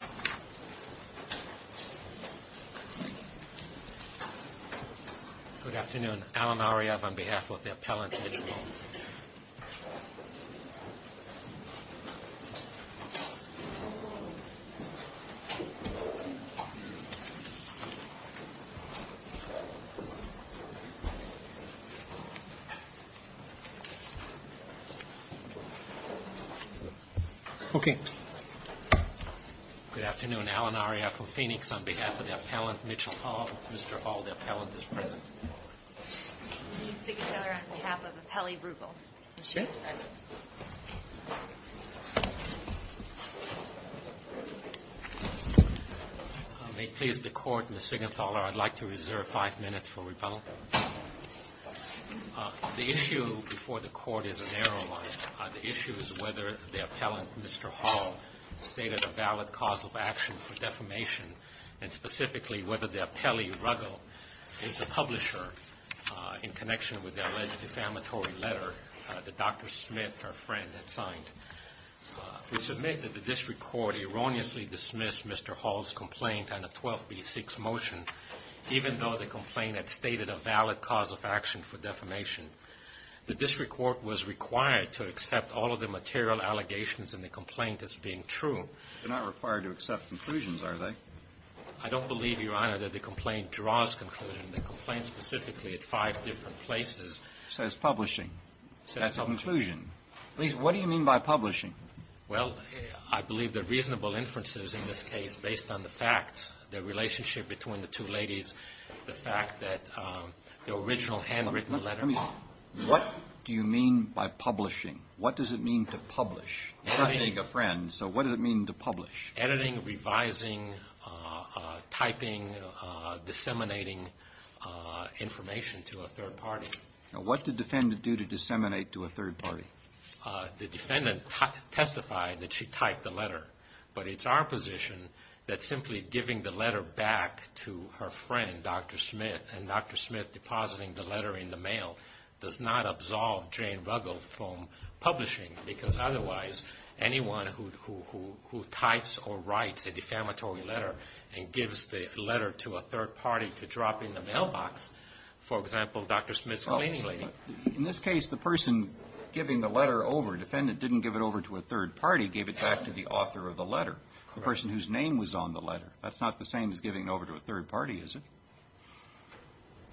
Good afternoon, Alan Ariyev on behalf of the Appellant Intelligent Law. Mitchell Hall, Mr. Hall, the Appellant is present. I'd like to reserve five minutes for rebuttal. The issue before the Court is a narrow one. The issue is whether the Appellant, Mr. Hall, stated a valid cause of action for defamation and specifically whether the appellee, Ruggill, is the publisher in connection with the alleged defamatory letter that Dr. Smith, our friend, had signed. We submit that the District Court erroneously dismissed Mr. Hall's complaint on the 12B6 motion, even though the complaint had stated a valid cause of action for defamation. The District Court was required to accept all of the material allegations in the complaint as being true. They're not required to accept conclusions, are they? I don't believe, Your Honor, that the complaint draws conclusions. The complaint specifically at five different places. Says publishing. That's a conclusion. What do you mean by publishing? Well, I believe the reasonable inferences in this case based on the facts, the relationship between the two ladies, the fact that the original handwritten letter. What do you mean by publishing? What does it mean to publish? Not being a friend, so what does it mean to publish? Editing, revising, typing, disseminating information to a third party. Now what did the defendant do to disseminate to a third party? The defendant testified that she typed the letter. But it's our position that simply giving the letter back to her friend, Dr. Smith, and Dr. Smith depositing the letter in the mail does not absolve Jane Ruggill from publishing because otherwise anyone who types or writes a defamatory letter and gives the letter to a third party to drop in the mailbox, for example, Dr. Smith's cleaning lady. In this case, the person giving the letter over, the defendant didn't give it over to a third party, gave it back to the author of the letter, the person whose name was on the letter. That's not the same as giving it over to a third party, is it?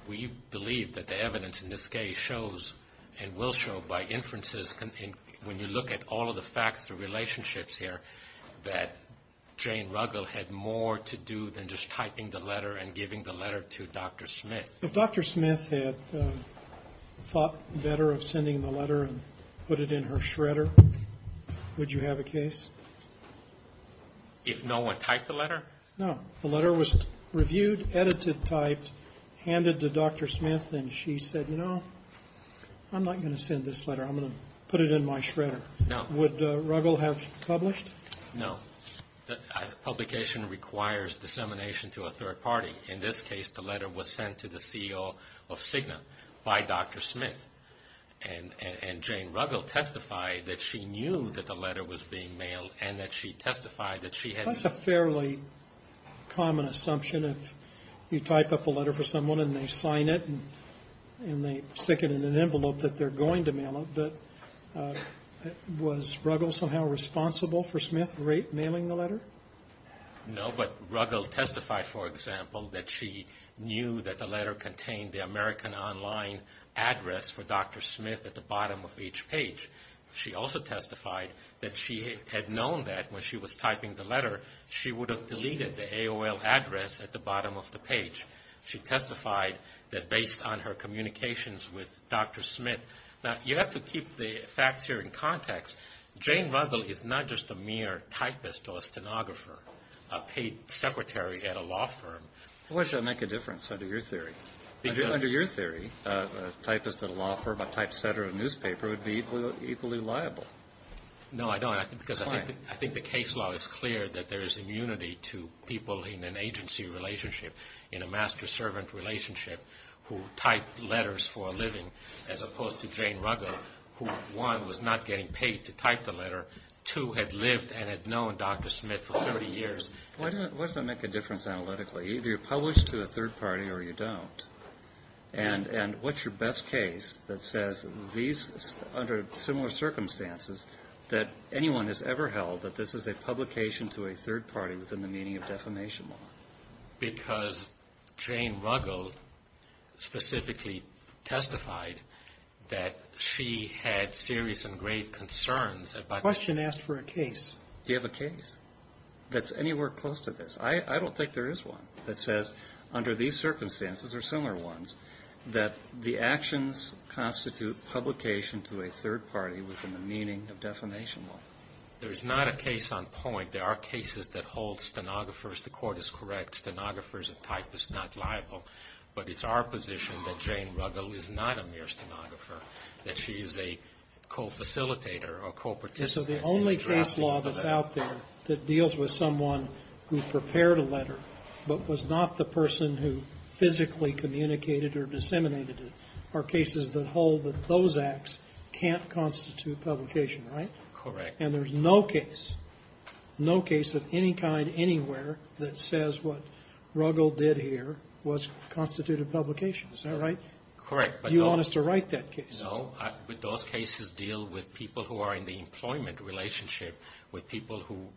We believe that the evidence in this case shows, and will show by inferences, when you look at all of the facts, the relationships here, that Jane Ruggill had more to do than just typing the letter and giving the letter to Dr. Smith. If Dr. Smith had thought better of sending the letter and put it in her shredder, would you have a case? If no one typed the letter? No. The letter was reviewed, edited, typed, handed to Dr. Smith, and she said, you know, I'm not going to send this letter. I'm going to put it in my shredder. Would Ruggill have published? No. Publication requires dissemination to a third party. In this case, the letter was sent to the CEO of Cigna by Dr. Smith, and Jane Ruggill testified that she knew that the letter was being mailed and that she testified that she had... That's a fairly common assumption if you type up a letter for someone and they sign it and they stick it in an envelope that they're going to mail it, but was Ruggill somehow responsible for Smith mailing the letter? No, but Ruggill testified, for example, that she knew that the letter contained the American Online address for Dr. Smith at the bottom of each page. She also testified that she had known that when she was typing the letter, she would have deleted the AOL address at the bottom of the page. She testified that based on her communications with Dr. Smith... Now, you have to keep the facts here in context. Jane Ruggill is not just a mere typist or stenographer, a paid secretary at a law firm. Where should I make a difference under your theory? Under your theory, a typist at a law firm, a typesetter at a newspaper would be equally liable. No, I don't. Why? Because I think the case law is clear that there is immunity to people in an agency relationship, in a master-servant relationship, who type letters for a living, as opposed to Jane Ruggill, who, one, was not getting paid to type the letter, two, had lived and had known Dr. Smith for 30 years. Why does that make a difference analytically? Either you're published to a third party or you don't. And what's your best case that says these, under similar circumstances, that anyone has ever held that this is a publication to a third party within the meaning of defamation law? Because Jane Ruggill specifically testified that she had serious and grave concerns about... The question asked for a case. Do you have a case? That's anywhere close to this. I don't think there is one that says, under these circumstances, or similar ones, that the actions constitute publication to a third party within the meaning of defamation law. There is not a case on point. There are cases that hold stenographers to court as correct, stenographers and typists not liable. But it's our position that Jane Ruggill is not a mere stenographer, that she is a co-facilitator or co-participant. So the only case law that's out there that deals with someone who prepared a letter but was not the person who physically communicated or disseminated it are cases that hold that those acts can't constitute publication, right? Correct. And there's no case, no case of any kind anywhere, that says what Ruggill did here was constitute a publication. Is that right? Correct. You want us to write that case? No. Those cases deal with people who are in the employment relationship, with people who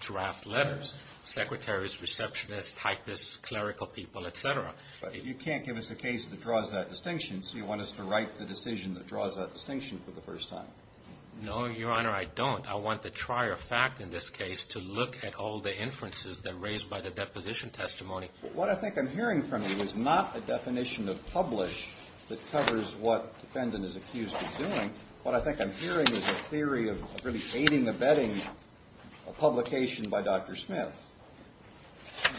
draft letters, secretaries, receptionists, typists, clerical people, et cetera. But you can't give us a case that draws that distinction, so you want us to write the decision that draws that distinction for the first time? No, Your Honor, I don't. I want the trier fact in this case to look at all the inferences that are raised by the deposition testimony. What I think I'm hearing from you is not a definition of publish that covers what defendant is accused of doing. What I think I'm hearing is a theory of really aiding, abetting a publication by Dr. Smith.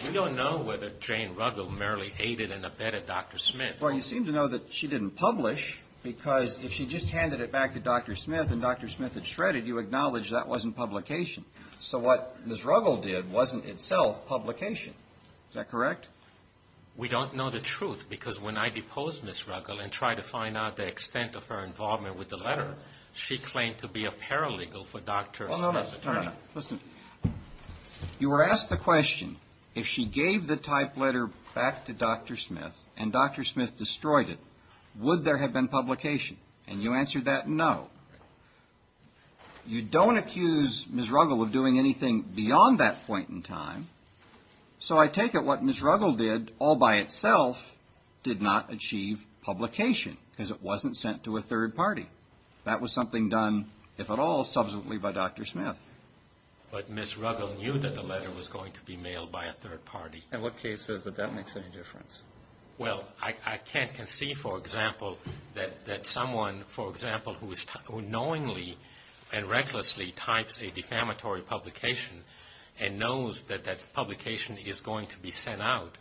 We don't know whether Jane Ruggill merely aided and abetted Dr. Smith. Well, you seem to know that she didn't publish because if she just handed it back to Dr. Smith and Dr. Smith had shredded, you acknowledge that wasn't publication. So what Ms. Ruggill did wasn't itself publication. Is that correct? We don't know the truth because when I deposed Ms. Ruggill and tried to find out the extent of her involvement with the letter, she claimed to be a paralegal for Dr. Smith's attorney. No, no, no. Listen. You were asked the question, if she gave the type letter back to Dr. Smith and Dr. Smith destroyed it, would there have been publication? And you answered that no. You don't accuse Ms. Ruggill of doing anything beyond that point in time. So I take it what Ms. Ruggill did all by itself did not achieve publication because it wasn't sent to a third party. That was something done, if at all, subsequently by Dr. Smith. But Ms. Ruggill knew that the letter was going to be mailed by a third party. And what case says that that makes any difference? Well, I can't conceive, for example, that someone, for example, who knowingly and recklessly types a defamatory publication and knows that that publication is going to be sent out,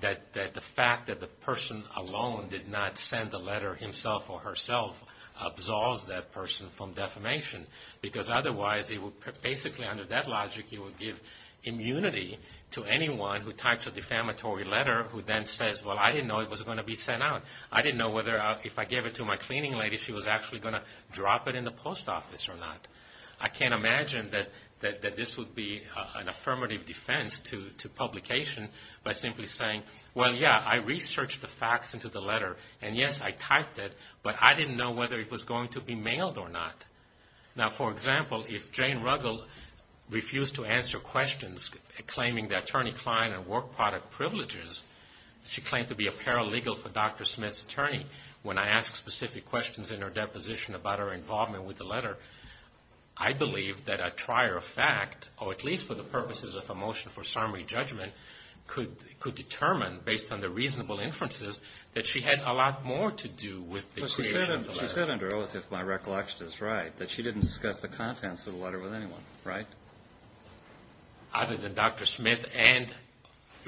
that the fact that the person alone did not send the letter himself or herself absolves that person from defamation. Because otherwise, basically under that logic, you would give immunity to anyone who types a defamatory letter who then says, well, I didn't know it was going to be sent out. I didn't know if I gave it to my cleaning lady, she was actually going to drop it in the post office or not. I can't imagine that this would be an affirmative defense to publication by simply saying, well, yeah, I researched the facts into the letter, and yes, I typed it, but I didn't know whether it was going to be mailed or not. Now, for example, if Jane Ruggel refused to answer questions claiming the attorney client and work product privileges, she claimed to be a paralegal for Dr. Smith's attorney. When I ask specific questions in her deposition about her involvement with the letter, I believe that a trier of fact, or at least for the purposes of a motion for summary judgment, could determine, based on the reasonable inferences, She said under oath, if my recollection is right, that she didn't discuss the contents of the letter with anyone, right? Other than Dr. Smith and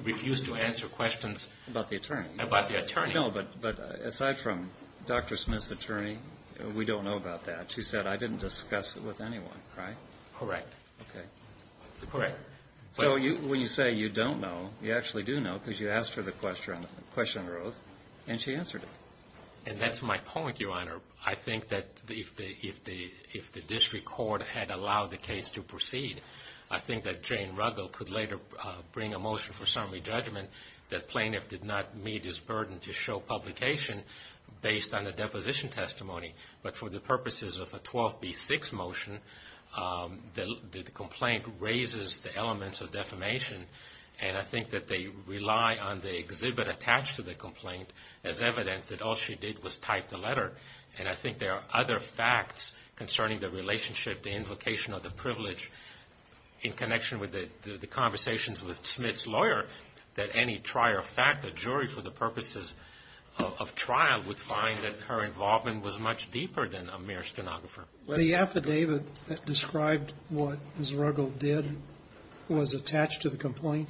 refused to answer questions. About the attorney. About the attorney. No, but aside from Dr. Smith's attorney, we don't know about that. She said, I didn't discuss it with anyone, right? Correct. Okay. Correct. So when you say you don't know, you actually do know, because you asked her the question under oath, and she answered it. And that's my point, Your Honor. I think that if the district court had allowed the case to proceed, I think that Jane Ruggel could later bring a motion for summary judgment that plaintiff did not meet his burden to show publication based on the deposition testimony. But for the purposes of a 12B6 motion, the complaint raises the elements of defamation, and I think that they rely on the exhibit attached to the complaint as evidence that all she did was type the letter. And I think there are other facts concerning the relationship, the invocation, or the privilege in connection with the conversations with Smith's lawyer that any trier of fact, a jury for the purposes of trial, would find that her involvement was much deeper than a mere stenographer. The affidavit that described what Ms. Ruggel did was attached to the complaint?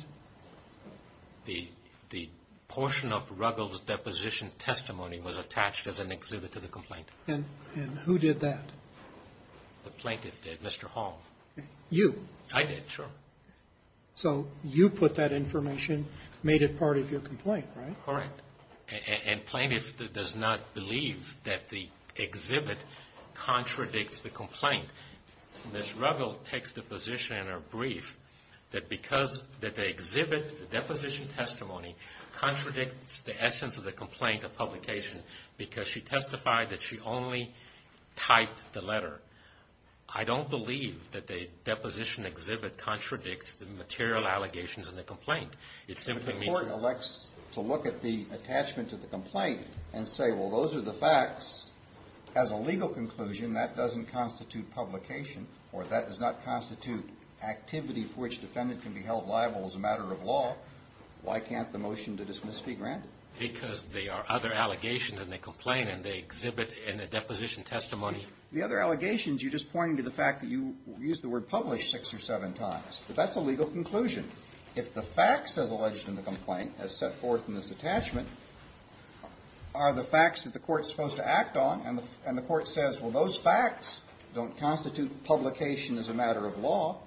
The portion of Ruggel's deposition testimony was attached as an exhibit to the complaint. And who did that? The plaintiff did, Mr. Hall. You? I did, sure. So you put that information, made it part of your complaint, right? Correct. And plaintiff does not believe that the exhibit contradicts the complaint. Ms. Ruggel takes the position in her brief that because the exhibit, the deposition testimony contradicts the essence of the complaint of publication because she testified that she only typed the letter. I don't believe that the deposition exhibit contradicts the material allegations in the complaint. The court elects to look at the attachment to the complaint and say, well, those are the facts. As a legal conclusion, that doesn't constitute publication, or that does not constitute activity for which defendant can be held liable as a matter of law. Why can't the motion to dismiss be granted? Because there are other allegations, and they complain, and they exhibit in the deposition testimony. The other allegations, you're just pointing to the fact that you used the word published six or seven times. But that's a legal conclusion. If the facts as alleged in the complaint, as set forth in this attachment, are the facts that the court is supposed to act on, and the court says, well, those facts don't constitute publication as a matter of law,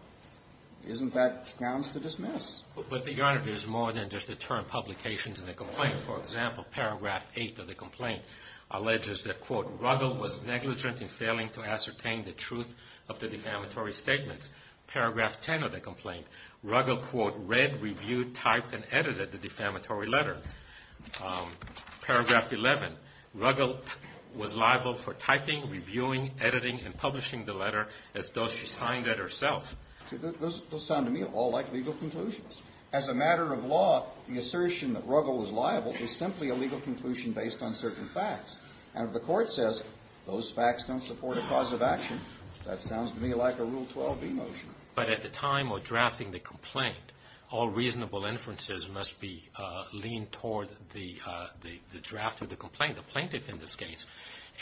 isn't that grounds to dismiss? But, Your Honor, there's more than just the term publications in the complaint. For example, paragraph 8 of the complaint alleges that, quote, Ruggel was negligent in failing to ascertain the truth of the defamatory statements. Paragraph 10 of the complaint, Ruggel, quote, read, reviewed, typed, and edited the defamatory letter. Paragraph 11, Ruggel was liable for typing, reviewing, editing, and publishing the letter as though she signed it herself. Those sound to me all like legal conclusions. As a matter of law, the assertion that Ruggel was liable is simply a legal conclusion based on certain facts. And if the court says, those facts don't support a cause of action, that sounds to me like a Rule 12-B motion. But at the time of drafting the complaint, all reasonable inferences must be leaned toward the draft of the complaint, the plaintiff in this case.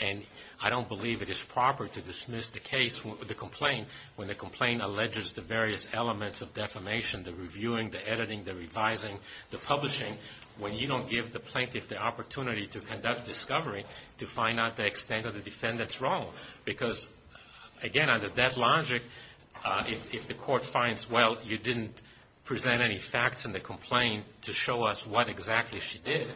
And I don't believe it is proper to dismiss the case, the complaint, when the complaint alleges the various elements of defamation, the reviewing, the editing, the revising, the publishing, when you don't give the plaintiff the opportunity to conduct discovery to find out the extent of the defendant's wrong. Because, again, under that logic, if the court finds, well, you didn't present any facts in the complaint to show us what exactly she did,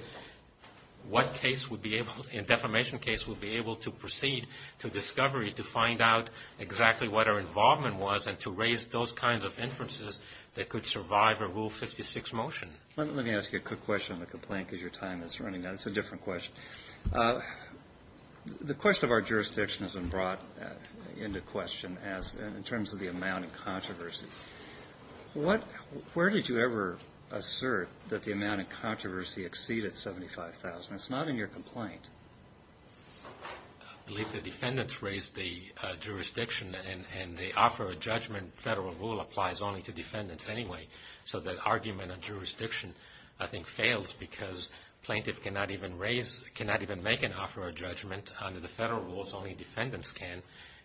what case would be able, in a defamation case, would be able to proceed to discovery to find out exactly what her involvement was and to raise those kinds of inferences that could survive a Rule 56 motion. Let me ask you a quick question on the complaint because your time is running out. It's a different question. The question of our jurisdiction has been brought into question in terms of the amount of controversy. Where did you ever assert that the amount of controversy exceeded 75,000? It's not in your complaint. I believe the defendants raised the jurisdiction and they offer a judgment. Federal rule applies only to defendants anyway. So the argument of jurisdiction, I think, fails because plaintiff cannot even raise, cannot even make an offer of judgment under the federal rules. Only defendants can.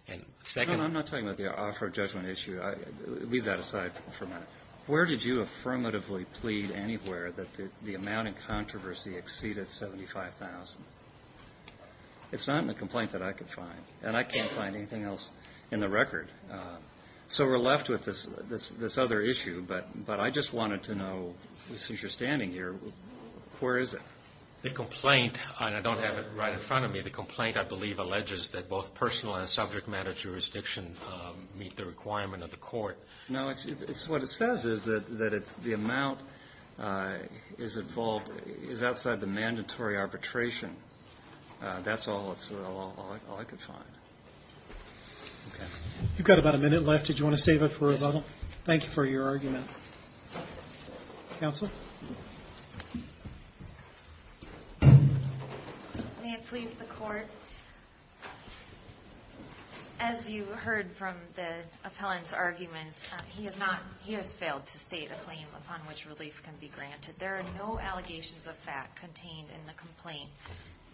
And second — I'm not talking about the offer of judgment issue. Leave that aside for a minute. Where did you affirmatively plead anywhere that the amount of controversy exceeded 75,000? It's not in the complaint that I could find. And I can't find anything else in the record. So we're left with this other issue. But I just wanted to know, since you're standing here, where is it? The complaint, and I don't have it right in front of me, the complaint I believe alleges that both personal and subject matter jurisdiction meet the requirement of the court. No, what it says is that the amount is outside the mandatory arbitration. That's all I could find. Okay. You've got about a minute left. Did you want to save it for a moment? Yes, sir. Thank you for your argument. Counsel? May it please the Court, as you heard from the appellant's argument, he has failed to state a claim upon which relief can be granted. There are no allegations of fact contained in the complaint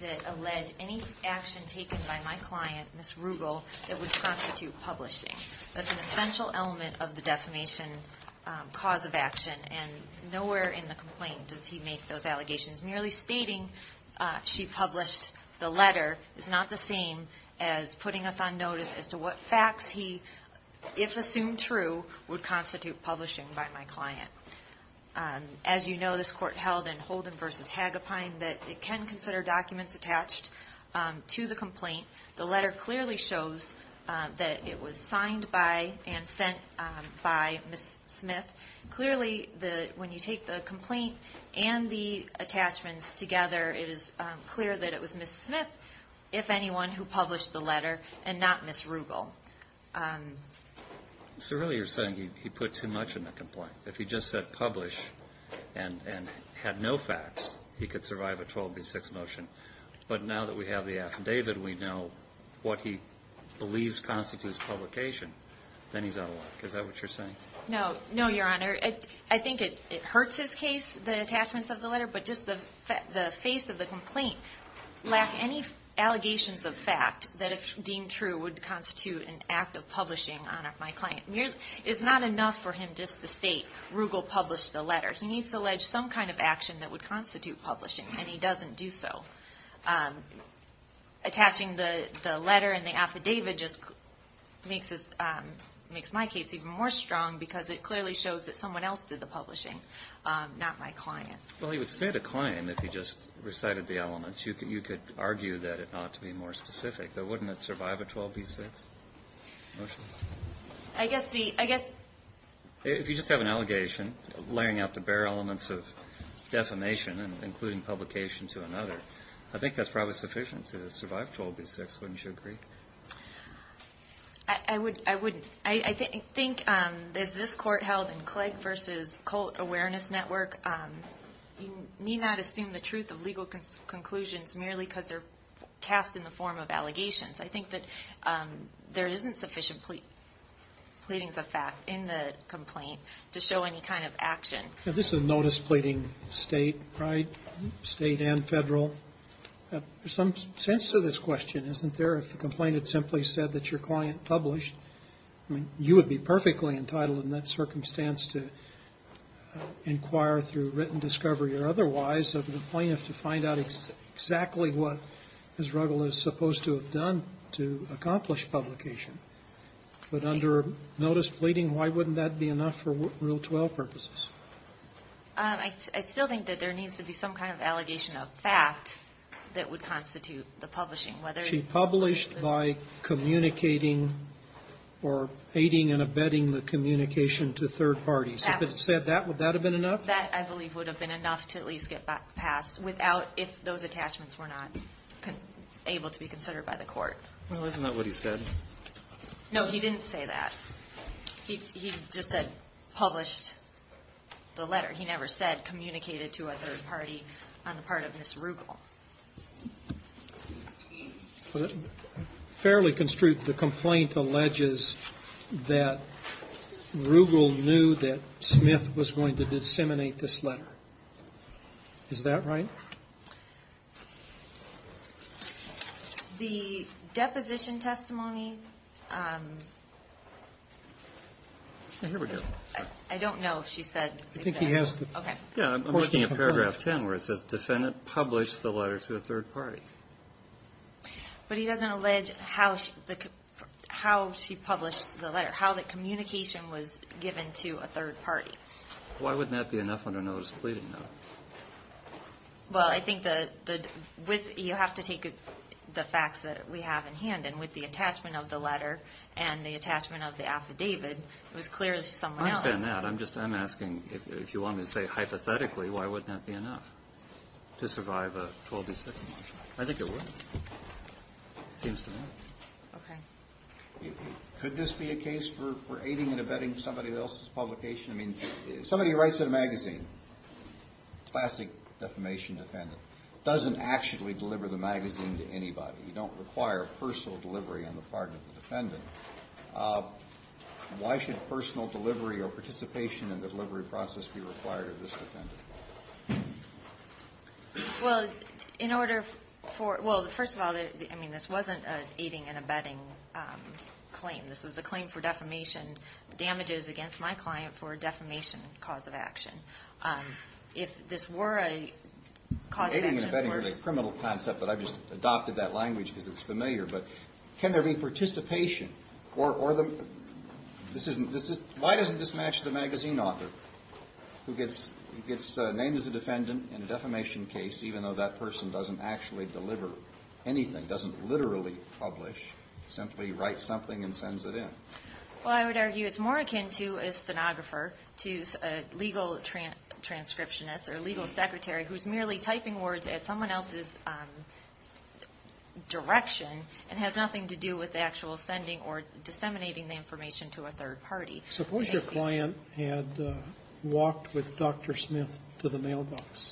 that allege any action taken by my client, Ms. Rugal, that would constitute publishing. That's an essential element of the defamation cause of action, and nowhere in the complaint does he make those allegations. Merely stating she published the letter is not the same as putting us on notice as to what facts he, if assumed true, would constitute publishing by my client. As you know, this court held in Holden v. Hagopine that it can consider documents attached to the complaint. The letter clearly shows that it was signed by and sent by Ms. Smith. Clearly, when you take the complaint and the attachments together, it is clear that it was Ms. Smith, if anyone, who published the letter and not Ms. Rugal. So really you're saying he put too much in the complaint. If he just said publish and had no facts, he could survive a 12B6 motion. But now that we have the affidavit, we know what he believes constitutes publication, then he's out of luck. Is that what you're saying? No, no, Your Honor. I think it hurts his case, the attachments of the letter, but just the face of the complaint lacked any allegations of fact that if deemed true would constitute an act of publishing on my client. It's not enough for him just to state Rugal published the letter. He needs to allege some kind of action that would constitute publishing, and he doesn't do so. Attaching the letter and the affidavit just makes my case even more strong because it clearly shows that someone else did the publishing, not my client. Well, he would state a client if he just recited the elements. You could argue that it ought to be more specific, but wouldn't it survive a 12B6 motion? I guess the ‑‑ If you just have an allegation laying out the bare elements of defamation and including publication to another, I think that's probably sufficient to survive 12B6. Wouldn't you agree? I wouldn't. I think as this Court held in Clegg v. Colt Awareness Network, you need not assume the truth of legal conclusions merely because they're cast in the form of allegations. I think that there isn't sufficient pleadings of fact in the complaint to show any kind of action. This is a notice pleading state, right? State and federal. There's some sense to this question, isn't there? If the complainant simply said that your client published, you would be perfectly entitled in that circumstance to inquire through written discovery or otherwise, of the plaintiff to find out exactly what Ms. Ruggel is supposed to have done to accomplish publication. But under notice pleading, why wouldn't that be enough for Rule 12 purposes? I still think that there needs to be some kind of allegation of fact that would constitute the publishing. She published by communicating or aiding and abetting the communication to third parties. If it said that, would that have been enough? That, I believe, would have been enough to at least get passed without if those attachments were not able to be considered by the court. Well, isn't that what he said? No, he didn't say that. He just said published the letter. He never said communicated to a third party on the part of Ms. Ruggel. Fairly construed, the complaint alleges that Ruggel knew that Smith was going to disseminate this letter. Is that right? The deposition testimony. Here we go. I don't know if she said. I think he has. Yeah, I'm looking at paragraph 10 where it says, defendant published the letter to a third party. But he doesn't allege how she published the letter, how the communication was given to a third party. Why wouldn't that be enough on a notice of pleading note? Well, I think you have to take the facts that we have in hand. And with the attachment of the letter and the attachment of the affidavit, it was clear that it was someone else. I understand that. I'm asking, if you want me to say hypothetically, why wouldn't that be enough to survive a 12-16? I think it would. It seems to me. Okay. Could this be a case for aiding and abetting somebody else's publication? I mean, if somebody writes in a magazine, classic defamation defendant, doesn't actually deliver the magazine to anybody, you don't require personal delivery on the part of the defendant, why should personal delivery or participation in the delivery process be required of this defendant? Well, in order for – Well, first of all, I mean, this wasn't an aiding and abetting claim. This was a claim for defamation, damages against my client for a defamation cause of action. If this were a cause of action – Aiding and abetting is a criminal concept, but I've just adopted that language because it's familiar. But can there be participation or the – why doesn't this match the magazine author who gets named as a defendant in a defamation case, even though that person doesn't actually deliver anything, doesn't literally publish, simply writes something and sends it in? Well, I would argue it's more akin to a stenographer, to a legal transcriptionist or legal secretary who's merely typing words at someone else's direction and has nothing to do with the actual sending or disseminating the information to a third party. Suppose your client had walked with Dr. Smith to the mailbox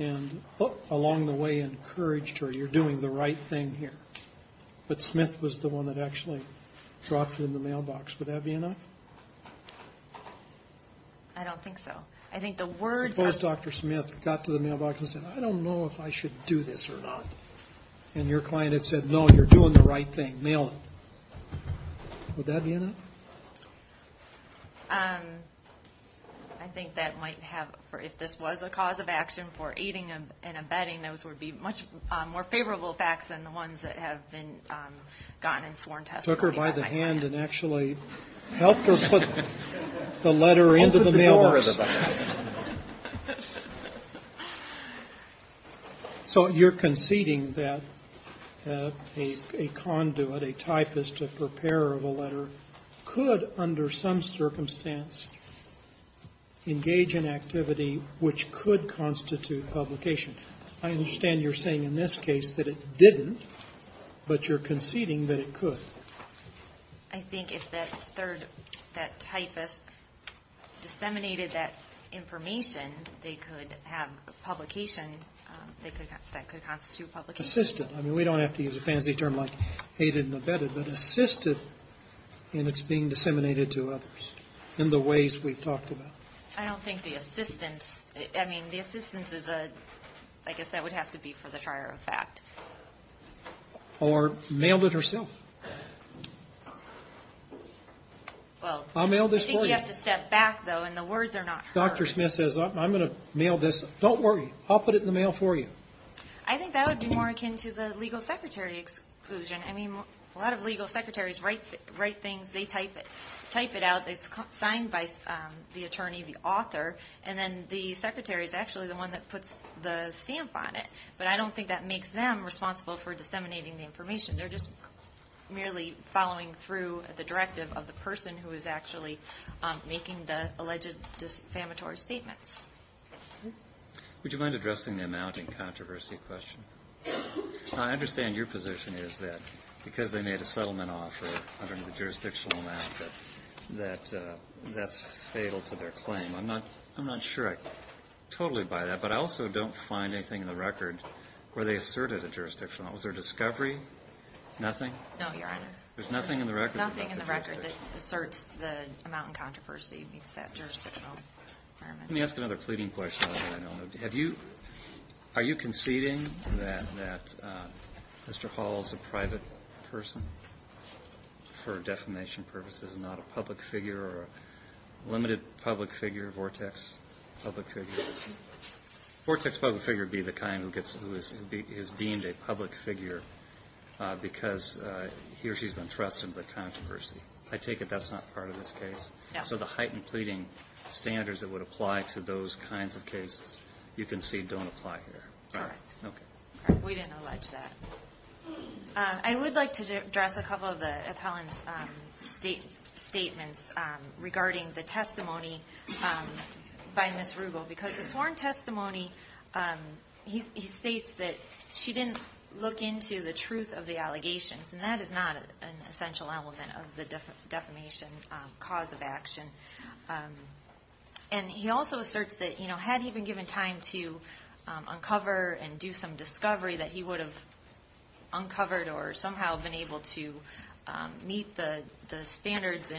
and along the way encouraged her, you're doing the right thing here. But Smith was the one that actually dropped it in the mailbox. Would that be enough? I don't think so. I think the words are – Suppose Dr. Smith got to the mailbox and said, I don't know if I should do this or not. And your client had said, no, you're doing the right thing, mail it. Would that be enough? I think that might have – if this was a cause of action for aiding and abetting, those would be much more favorable facts than the ones that have been gotten in sworn testimony by my client. Took her by the hand and actually helped her put the letter into the mailbox. Helped her put the letter into the mailbox. So you're conceding that a conduit, a typist, a preparer of a letter, could under some circumstance engage in activity which could constitute publication. I understand you're saying in this case that it didn't, but you're conceding that it could. I think if that third, that typist, disseminated that information, they could have publication that could constitute publication. Assisted. I mean, we don't have to use a fancy term like aided and abetted, but assisted in its being disseminated to others in the ways we've talked about. I don't think the assistance – I mean, the assistance is a – I guess that would have to be for the trier of fact. Or mailed it herself. I'll mail this for you. I think you have to step back, though, and the words are not hers. Dr. Smith says, I'm going to mail this. Don't worry, I'll put it in the mail for you. I think that would be more akin to the legal secretary exclusion. I mean, a lot of legal secretaries write things, they type it out. It's signed by the attorney, the author, and then the secretary is actually the one that puts the stamp on it. But I don't think that makes them responsible for disseminating the information. They're just merely following through the directive of the person who is actually making the alleged defamatory statements. Would you mind addressing the amount in controversy question? I understand your position is that because they made a settlement offer under the jurisdictional map that that's fatal to their claim. I'm not sure I totally buy that, but I also don't find anything in the record where they asserted a jurisdictional. Was there a discovery? Nothing? No, Your Honor. There's nothing in the record? Nothing in the record that asserts the amount in controversy meets that jurisdictional requirement. Let me ask another pleading question. Are you conceding that Mr. Hall is a private person for defamation purposes and not a public figure or a limited public figure, vortex public figure? Vortex public figure would be the kind who is deemed a public figure because he or she has been thrust into the controversy. I take it that's not part of this case? No. So the heightened pleading standards that would apply to those kinds of cases, you concede don't apply here? Correct. Okay. We didn't allege that. I would like to address a couple of the appellant's statements regarding the testimony by Ms. Rugel. Because the sworn testimony, he states that she didn't look into the truth of the allegations, and that is not an essential element of the defamation cause of action. And he also asserts that had he been given time to uncover and do some discovery that he would have uncovered or somehow been able to meet the standards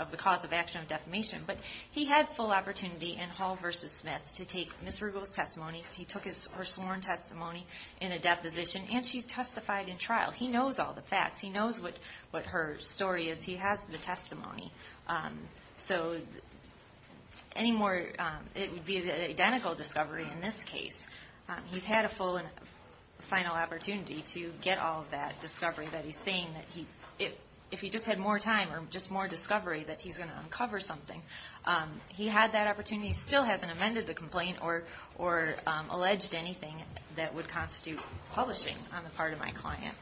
of the cause of action of defamation. But he had full opportunity in Hall v. Smith to take Ms. Rugel's testimony. He took her sworn testimony in a deposition, and she testified in trial. He knows all the facts. He knows what her story is. He has the testimony. So it would be an identical discovery in this case. He's had a full and final opportunity to get all of that discovery that he's saying that if he just had more time or just more discovery that he's going to uncover something. He had that opportunity. He still hasn't amended the complaint or alleged anything that would constitute publishing on the part of my client.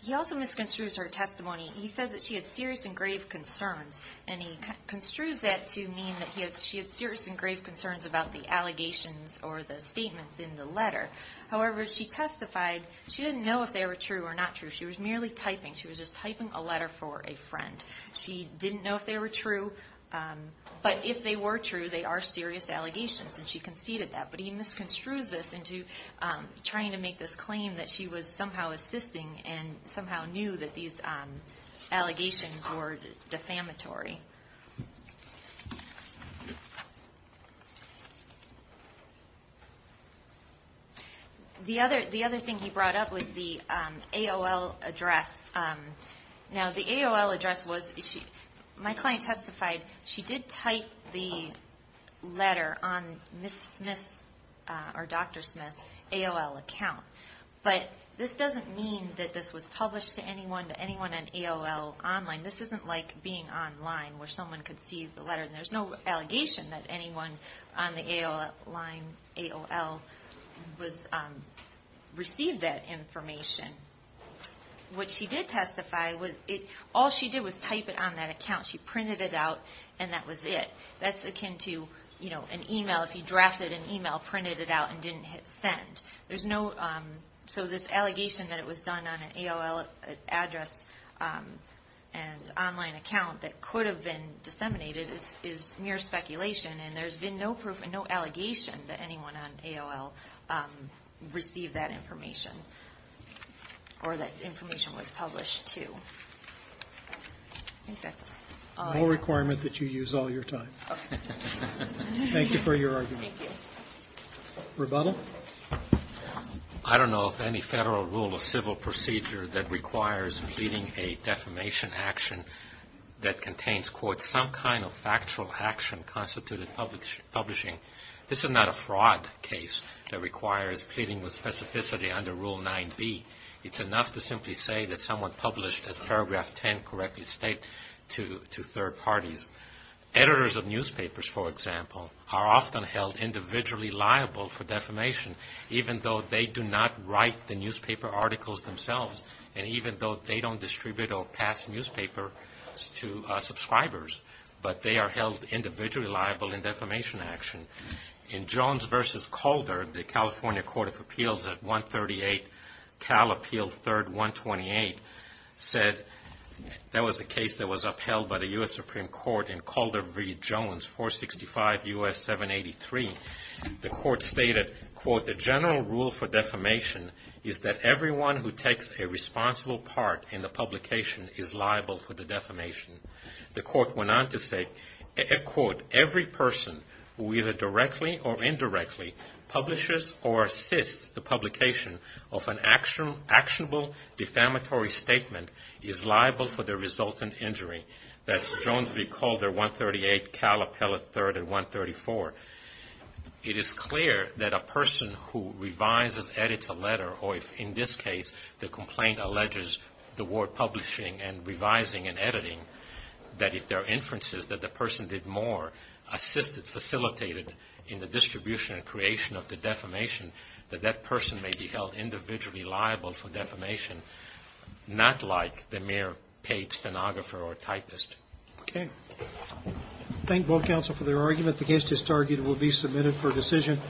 He also misconstrues her testimony. He says that she had serious and grave concerns, and he construes that to mean that she had serious and grave concerns about the allegations or the statements in the letter. However, she testified she didn't know if they were true or not true. She was merely typing. She was just typing a letter for a friend. She didn't know if they were true. But if they were true, they are serious allegations, and she conceded that. But he misconstrues this into trying to make this claim that she was somehow assisting and somehow knew that these allegations were defamatory. The other thing he brought up was the AOL address. Now, the AOL address was my client testified she did type the letter on Dr. Smith's AOL account, but this doesn't mean that this was published to anyone on AOL online. This isn't like being online where someone could see the letter, and there's no allegation that anyone on the AOL line received that information. What she did testify was all she did was type it on that account. She printed it out, and that was it. That's akin to an email. If you drafted an email, printed it out, and didn't hit send. So this allegation that it was done on an AOL address and online account that could have been disseminated is mere speculation, and there's been no proof and no allegation that anyone on AOL received that information or that information was published to. I think that's all I have. No requirement that you use all your time. Thank you for your argument. Thank you. Rebuttal. I don't know of any federal rule or civil procedure that requires pleading a defamation action that contains, quote, some kind of factual action constituted publishing. This is not a fraud case that requires pleading with specificity under Rule 9b. It's enough to simply say that someone published, as paragraph 10 correctly states, to third parties. Editors of newspapers, for example, are often held individually liable for defamation, even though they do not write the newspaper articles themselves, and even though they don't distribute or pass newspapers to subscribers, but they are held individually liable in defamation action. In Jones v. Calder, the California Court of Appeals at 138 Cal Appeal 3rd 128 said that was a case that was upheld by the U.S. Supreme Court in Calder v. Jones 465 U.S. 783. The court stated, quote, the general rule for defamation is that everyone who takes a responsible part in the publication is liable for the defamation. The court went on to say, quote, every person who either directly or indirectly publishes or assists the publication of an actionable defamatory statement is liable for the resultant injury. That's Jones v. Calder 138 Cal Appeal 3rd 134. It is clear that a person who revises, edits a letter, or if in this case the complaint alleges the word publishing and revising and editing, that if there are inferences that the person did more, assisted, facilitated in the distribution and creation of the defamation, that that person may be held individually liable for defamation, not like the mere paid stenographer or typist. Okay. Thank both counsel for their arguments against this target. It will be submitted for decision.